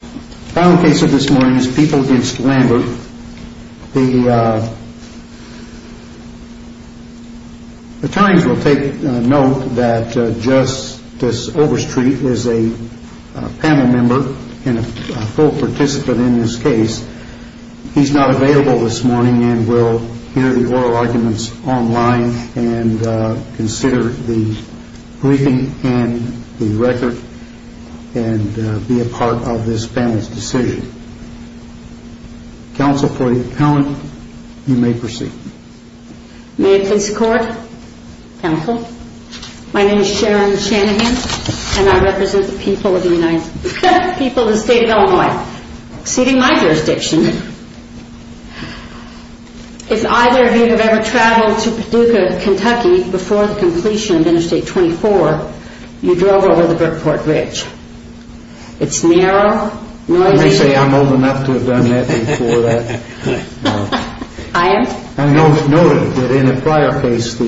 The final case of this morning is People v. Lambert. The Times will take note that Justice Overstreet is a panel member and a full participant in this case. He is not available this morning and will hear the oral arguments online and consider the briefing and the record and be a part of this panel's decision. Counsel for the appellant, you may proceed. May it please the Court, Counsel. My name is Sharon Shanahan and I represent the people of the state of Illinois, exceeding my jurisdiction. If either of you have ever traveled to Paducah, Kentucky before the completion of Interstate 24, you drove over the Burkeport Bridge. It's near... I may say I'm old enough to have done that before that. I am? I know it's noted that in a prior case the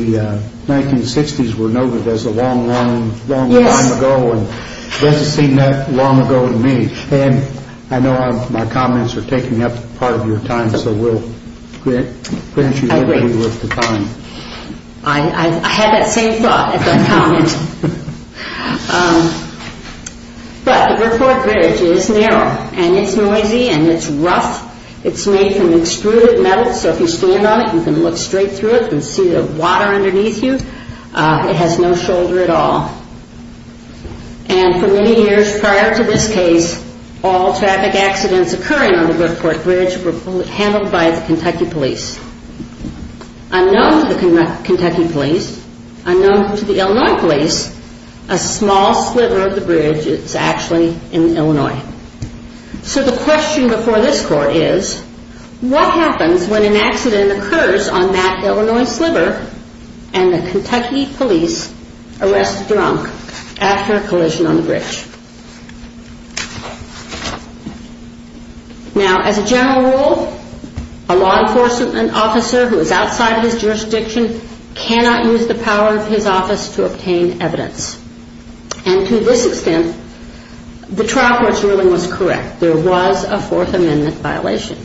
1960s were noted as a long, long, long time ago and it doesn't seem that long ago to me. And I know my comments are taking up part of your time so we'll finish you up with the time. I had that same thought at that comment. But the Burkeport Bridge is narrow and it's noisy and it's rough. It's made from extruded metal so if you stand on it you can look straight through it and see the water underneath you. It has no shoulder at all. And for many years prior to this case, all traffic accidents occurring on the Burkeport Bridge were handled by the Kentucky Police. Unknown to the Kentucky Police, unknown to the Illinois Police, a small sliver of the bridge is actually in Illinois. So the question before this court is, what happens when an accident occurs on that Illinois sliver and the Kentucky Police arrest the drunk after a collision on the bridge? Now, as a general rule, a law enforcement officer who is outside of his jurisdiction cannot use the power of his office to obtain evidence. And to this extent, the trial court's ruling was correct. There was a Fourth Amendment violation.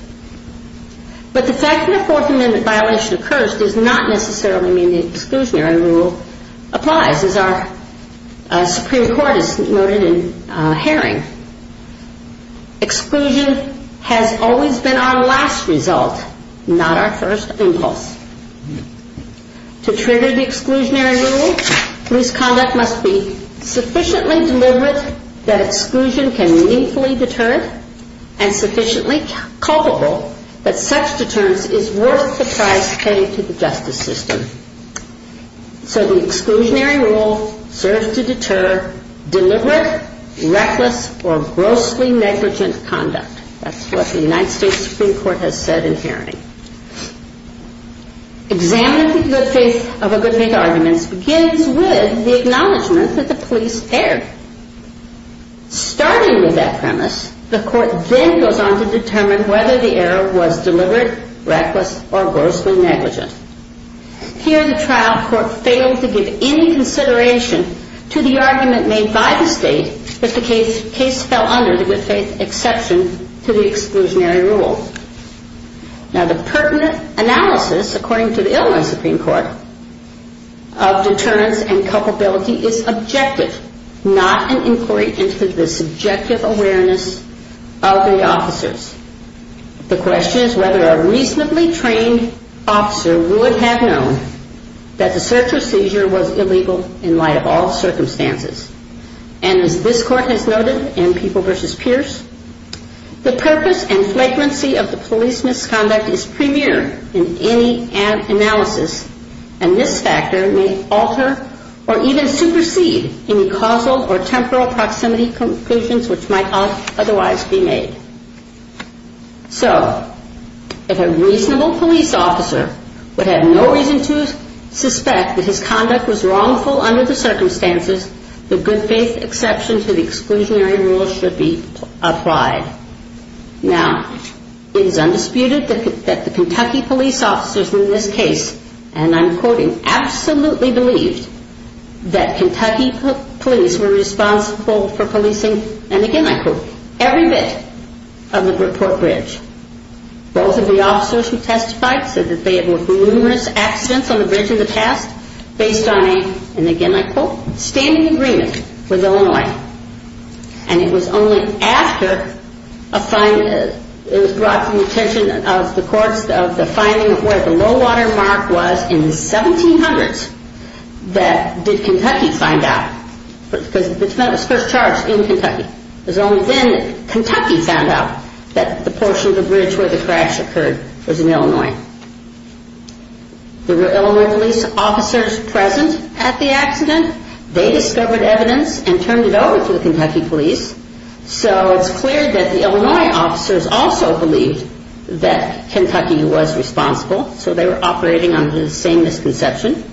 But the fact that a Fourth Amendment violation occurs does not necessarily mean the exclusionary rule applies. As our Supreme Court has noted in Haring, exclusion has always been our last result, not our first impulse. To trigger the exclusionary rule, police conduct must be sufficiently deliberate that exclusion can meaningfully deter it, and sufficiently culpable that such deterrence is worth the price paid to the justice system. So the exclusionary rule serves to deter deliberate, reckless, or grossly negligent conduct. That's what the United States Supreme Court has said in Haring. Examining the good faith of a good faith argument begins with the acknowledgement that the police erred. Starting with that premise, the court then goes on to determine whether the error was deliberate, reckless, or grossly negligent. Here, the trial court failed to give any consideration to the argument made by the state that the case fell under the good faith exception to the exclusionary rule. Now, the pertinent analysis, according to the Illinois Supreme Court, of deterrence and culpability is objective, not an inquiry into the subjective awareness of the officers. The question is whether a reasonably trained officer would have known that the search or seizure was illegal in light of all circumstances. And as this court has noted in People v. Pierce, the purpose and flagrancy of the police misconduct is premier in any analysis, and this factor may alter or even supersede any causal or temporal proximity conclusions which might otherwise be made. So, if a reasonable police officer would have no reason to suspect that his conduct was wrongful under the circumstances, the good faith exception to the exclusionary rule should be applied. Now, it is undisputed that the Kentucky police officers in this case, and I'm quoting, absolutely believed that Kentucky police were responsible for policing, and again I quote, every bit of the Brookport Bridge. Both of the officers who testified said that there were numerous accidents on the bridge in the past, based on a, and again I quote, standing agreement with Illinois. And it was only after it was brought to the attention of the courts, of the finding of where the low water mark was in the 1700s, that did Kentucky find out. Because it was first charged in Kentucky. It was only then that Kentucky found out that the portion of the bridge where the crash occurred was in Illinois. There were Illinois police officers present at the accident. They discovered evidence and turned it over to the Kentucky police. So it's clear that the Illinois officers also believed that Kentucky was responsible. So they were operating under the same misconception.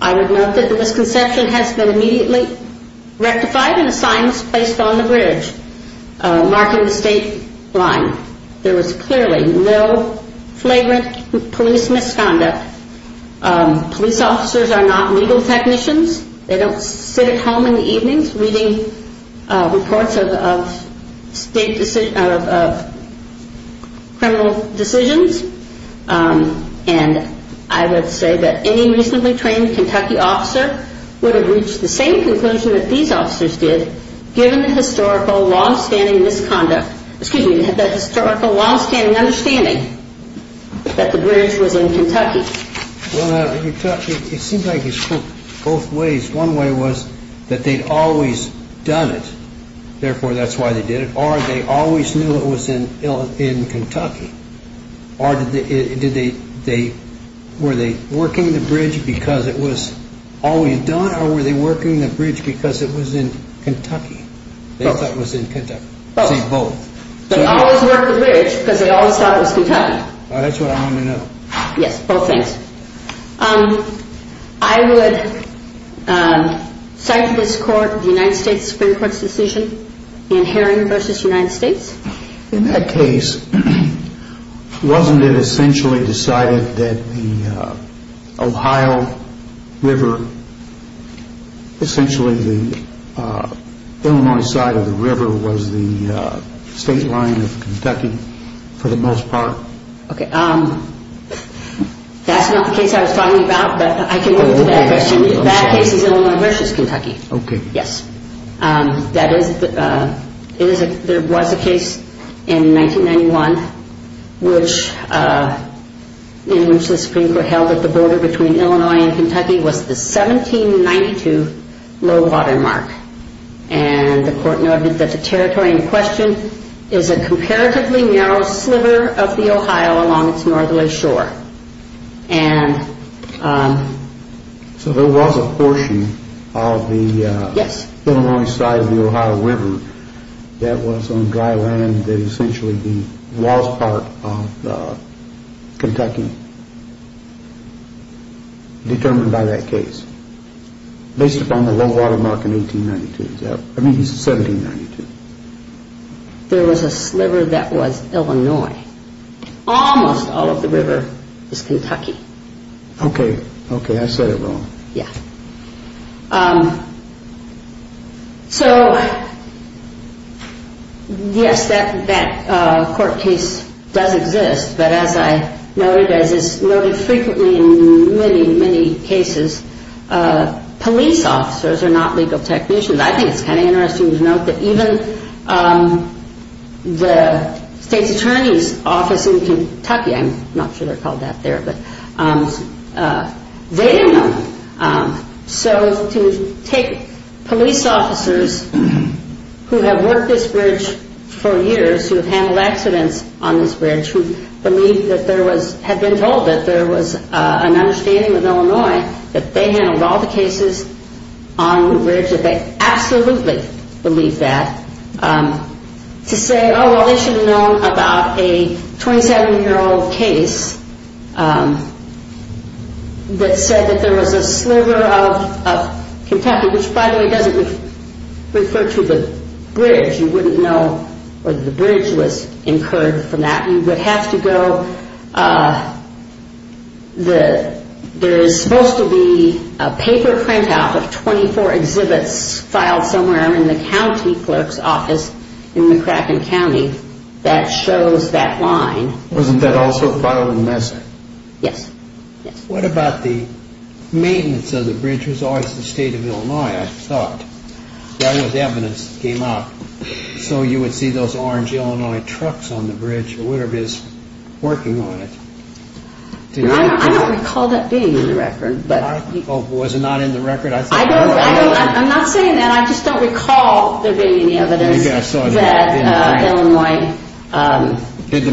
I would note that the misconception has been immediately rectified and a sign was placed on the bridge, marking the state line. There was clearly no flagrant police misconduct. Police officers are not legal technicians. They don't sit at home in the evenings reading reports of criminal decisions. And I would say that any recently trained Kentucky officer would have reached the same conclusion that these officers did, given the historical long-standing misconduct, excuse me, the historical long-standing understanding that the bridge was in Kentucky. It seems like you spoke both ways. One way was that they'd always done it, therefore that's why they did it, or they always knew it was in Kentucky. Or were they working the bridge because it was always done, or were they working the bridge because it was in Kentucky? They thought it was in Kentucky. They always worked the bridge because they always thought it was Kentucky. That's what I wanted to know. Yes. I would cite to this court the United States Supreme Court's decision in Herring v. United States. In that case, wasn't it essentially decided that the Ohio River, essentially the Illinois side of the river was the state line of Kentucky for the most part? No. That's not the case I was talking about, but I can go to that question. That case is Illinois v. Kentucky. Okay. Yes. There was a case in 1991, in which the Supreme Court held that the border between Illinois and Kentucky was the 1792 low water mark. And the court noted that the territory in question is a comparatively narrow sliver of the Ohio along its northerly shore. So there was a portion of the Illinois side of the Ohio River that was on dry land that essentially was part of Kentucky. Determined by that case. Based upon the low water mark in 1892. I mean, 1792. There was a sliver that was Illinois. Almost all of the river is Kentucky. Okay, I said it wrong. Yes. So, yes, that court case does exist, but as I noted, as is noted frequently in many, many cases, police officers are not legal technicians. I think it's kind of interesting to note that even the state's attorney's office in Kentucky, I'm not sure they're called that there, but they didn't know. So to take police officers who have worked this bridge for years, who have handled accidents on this bridge, who believe that there was, had been told that there was an understanding with Illinois that they handled all the cases on the bridge, that they absolutely believe that, to say, oh, well, they should have known about a 27-year-old case that said that there was a sliver of Kentucky, which, by the way, doesn't refer to the bridge. Because you wouldn't know whether the bridge was incurred from that. You would have to go, there is supposed to be a paper printout of 24 exhibits filed somewhere in the county clerk's office in McCracken County that shows that line. Wasn't that also filed in Mesa? Yes. What about the maintenance of the bridge? It was always the state of Illinois, I thought. That was evidence that came out. So you would see those orange Illinois trucks on the bridge, or whatever is working on it. I don't recall that being in the record. Was it not in the record? I'm not saying that. I just don't recall there being any evidence that Illinois did the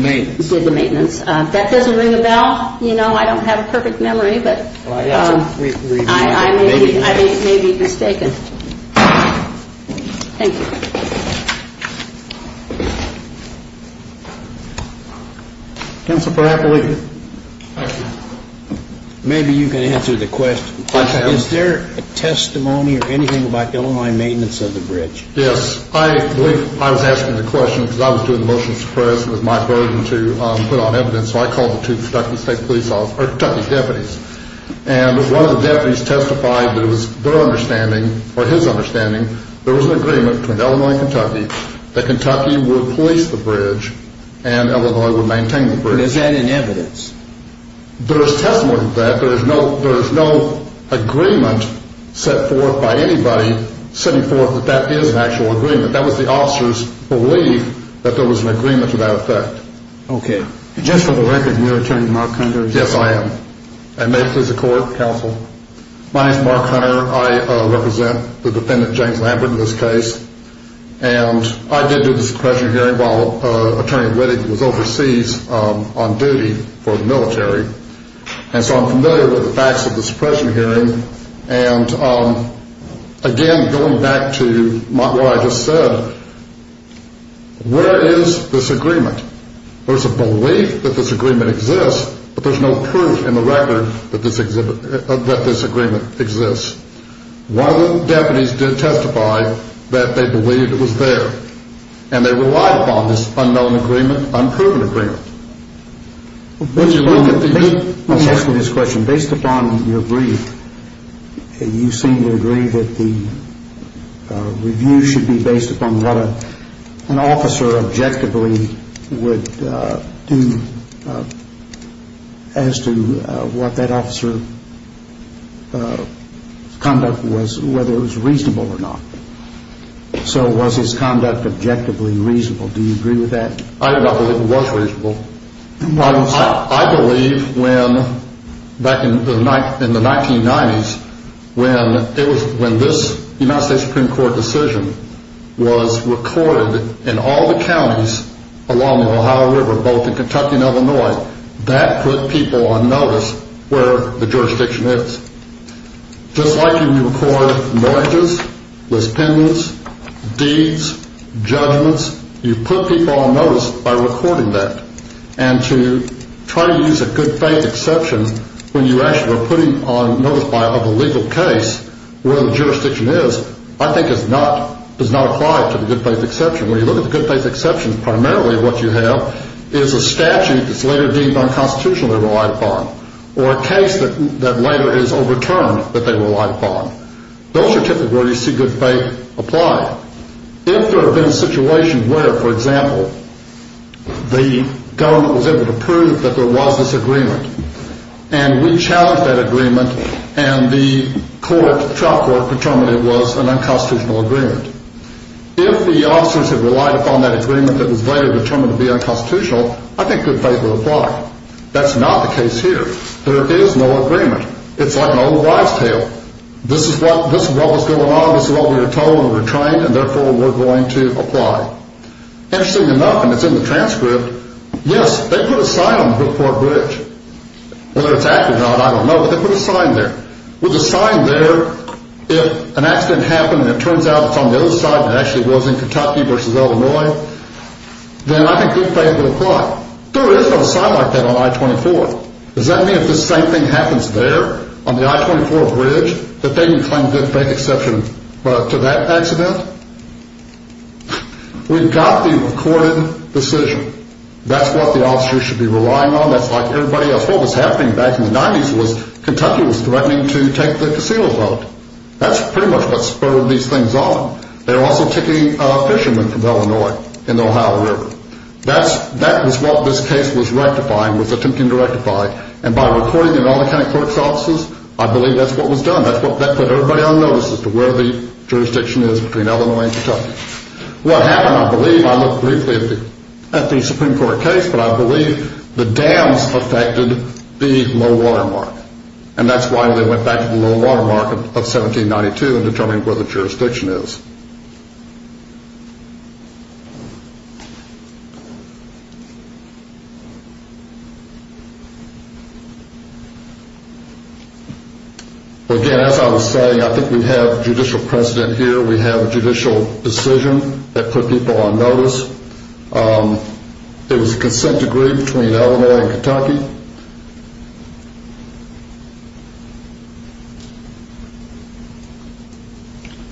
maintenance. That doesn't ring a bell. I don't have a perfect memory, but I may be mistaken. Thank you. Counsel for Appellate. Thank you. Maybe you can answer the question. Is there a testimony or anything about Illinois maintenance of the bridge? Yes, I believe I was asking the question because I was doing the motions to press and it was my burden to put on evidence, so I called the two Kentucky State Police officers, or Kentucky deputies. And one of the deputies testified that it was their understanding, or his understanding, there was an agreement between Illinois and Kentucky that Kentucky would police the bridge and Illinois would maintain the bridge. Is that in evidence? There is testimony to that. There is no agreement set forth by anybody setting forth that that is an actual agreement. That was the officer's belief that there was an agreement to that effect. Okay. Just for the record, are you Attorney Mark Hunter? And may it please the Court, Counsel. My name is Mark Hunter. I represent the defendant, James Lambert, in this case. And I did do the suppression hearing while Attorney Wittig was overseas on duty for the military. And so I'm familiar with the facts of the suppression hearing. And again, going back to what I just said, where is this agreement? There's a belief that this agreement exists, but there's no proof in the record that this agreement exists. Why would deputies testify that they believed it was there? And they relied upon this unknown agreement, unproven agreement. Based upon your brief, you seem to agree that the review should be based upon what an officer objectively would do as to what that officer's conduct was, whether it was reasonable or not. So was his conduct objectively reasonable? Do you agree with that? I do not believe it was reasonable. I believe when, back in the 1990s, when this United States Supreme Court decision was recorded in all the counties along the Ohio River, both in Kentucky and Illinois, that put people on notice where the jurisdiction is. Just like when you record marriages, mispendants, deeds, judgments, you put people on notice by recording that. And to try to use a good-faith exception when you actually are putting on notice of a legal case where the jurisdiction is, I think is not applied to the good-faith exception. When you look at the good-faith exceptions, primarily what you have is a statute that's later deemed unconstitutionally relied upon or a case that later is overturned that they relied upon. Those are typically where you see good-faith apply. If there had been a situation where, for example, the government was able to prove that there was this agreement and we challenged that agreement and the trial court determined it was an unconstitutional agreement, if the officers had relied upon that agreement and it was later determined to be unconstitutional, I think good-faith would apply. That's not the case here. There is no agreement. It's like an old wives' tale. This is what was going on, this is what we were told when we were trained, and therefore we're going to apply. Interestingly enough, and it's in the transcript, yes, they put a sign on the Brookport Bridge. Whether it's active or not, I don't know, but they put a sign there. With the sign there, if an accident happened and it turns out it's on the other side and it actually was in Kentucky versus Illinois, then I think good-faith would apply. There is no sign like that on I-24. Does that mean if the same thing happens there, on the I-24 Bridge, that they can claim good-faith exception to that accident? We've got the recorded decision. That's what the officers should be relying on. That's like everybody else. What was happening back in the 90s was Kentucky was threatening to take the casino vote. That's pretty much what spurred these things on. They were also taking fishermen from Illinois in the Ohio River. That was what this case was rectifying, was attempting to rectify, and by reporting in all the county court's offices, I believe that's what was done. That put everybody on notice as to where the jurisdiction is between Illinois and Kentucky. What happened, I believe, I looked briefly at the Supreme Court case, but I believe the dams affected the low-water market, and that's why they went back to the low-water market of 1792 and determined where the jurisdiction is. Again, as I was saying, I think we have judicial precedent here. We have a judicial decision that put people on notice.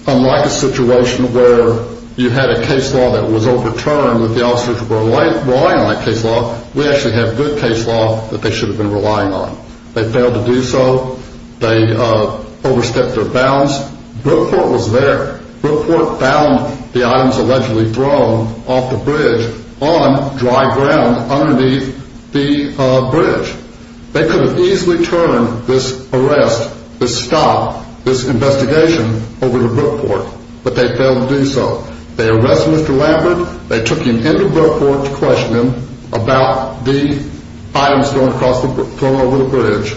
Unlike a situation where you had a case law that was overturned with the officers relying on that case law, we actually have good case law that they should have been relying on. They failed to do so. They overstepped their bounds. Brookport was there. Brookport found the items allegedly thrown off the bridge on dry ground underneath the bridge. They could have easily turned this arrest, this stop, this investigation over to Brookport, but they failed to do so. They arrested Mr. Lambert. They took him into Brookport to question him about the items thrown over the bridge.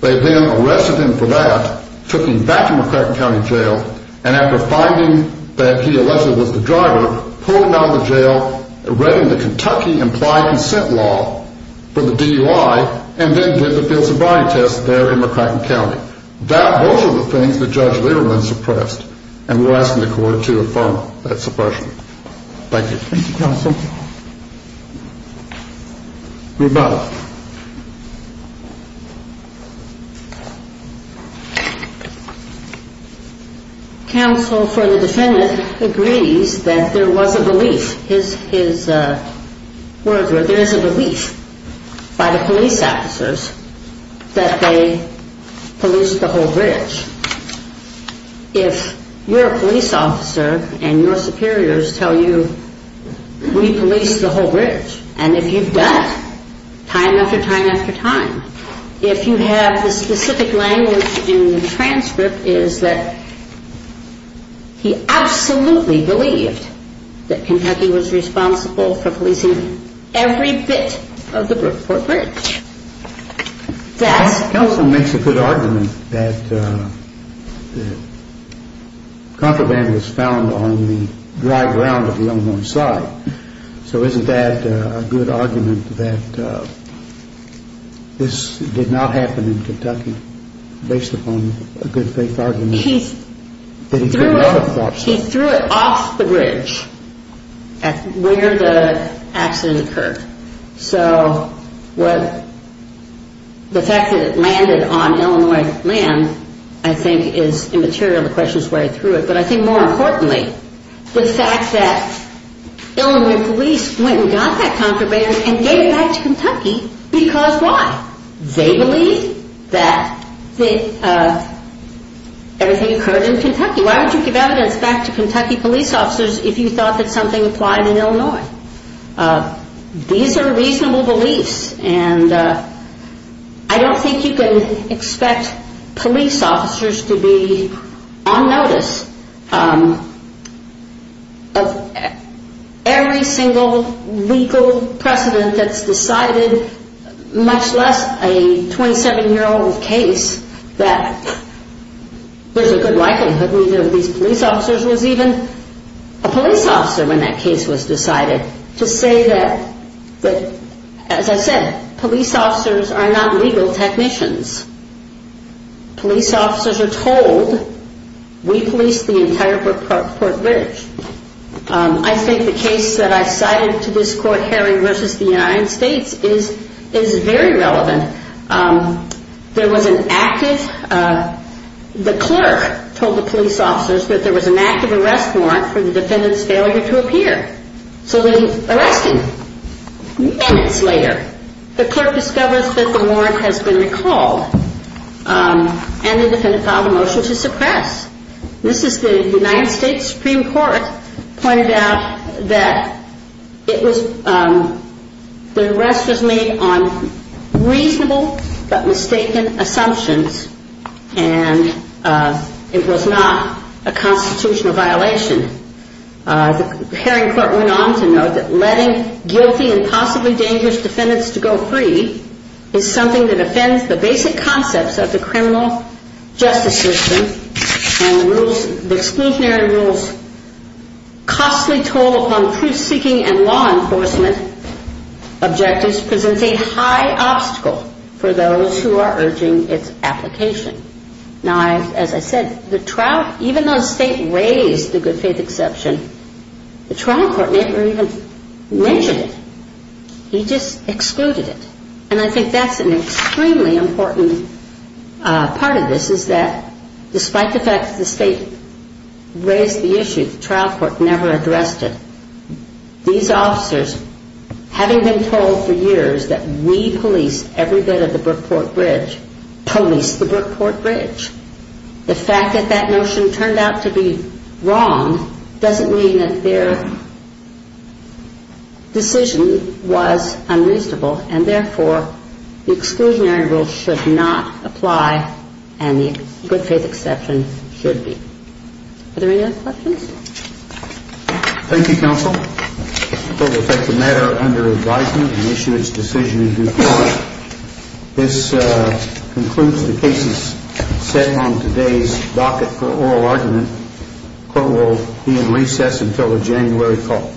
They then arrested him for that, took him back to McCracken County Jail, and after finding that he allegedly was the driver, pulled him out of the jail, read him the Kentucky Implied Consent Law for the DUI, and then did the field sobriety test there in McCracken County. Those are the things that Judge Lieberman suppressed, and we're asking the court to affirm that suppression. Thank you. Thank you, Counsel. Rebecca. Counsel for the defendant agrees that there was a belief. His words were there is a belief by the police officers that they policed the whole bridge. If you're a police officer and your superiors tell you we policed the whole bridge, and if you've done, time after time after time, if you have the specific language in the transcript is that he absolutely believed that Kentucky was responsible for policing every bit of the Brookport Bridge. Counsel makes a good argument that contraband was found on the dry ground of the Illinois side. So isn't that a good argument that this did not happen in Kentucky based upon a good faith argument that he could never have thought so? He threw it off the bridge where the accident occurred. So what the fact that it landed on Illinois land I think is immaterial. The question is where he threw it. But I think more importantly the fact that Illinois police went and got that contraband and gave it back to Kentucky because why? They believe that everything occurred in Kentucky. Why would you give evidence back to Kentucky police officers if you thought that something applied in Illinois? I don't think you can expect police officers to be on notice of every single legal precedent that's decided much less a 27-year-old case that there's a good likelihood either of these police officers was even a police officer when that case was decided to say that as I said police officers are not legal technicians. Police officers are told we police the entire court bridge. I think the case that I cited to this court Harry versus the United States is very relevant. There was an active the clerk told the police officers that there was an active arrest warrant for the defendant's failure three minutes later. The clerk discovers that the warrant has been recalled and the defendant filed a motion to suppress. This is the United States Supreme Court pointed out that it was the arrest was made on reasonable but mistaken assumptions and it was not a constitutional violation. The Haring court went on to note that letting guilty and possibly dangerous defendants to go free is something that offends the basic concepts of the criminal justice system and the exclusionary rules costly toll upon truth-seeking and law enforcement objectives presents a high obstacle for those who are urging its application. Now as I said the Haring court made the exception the trial court never even mentioned it. He just excluded it and I think that's an extremely important part of this is that despite the fact that the state raised the issue the trial court never addressed it. These officers having been told for years that we police every bit of the information that have the information that we have does not mean that their decision was unreasonable and therefore the exclusionary rule should not apply and the good faith exception should be. Are there any other questions? Thank you, counsel. The matter under advisement is adjourned and issued its decision in due course. This concludes the cases set on today's docket for oral argument. Court will be in recess until the January call.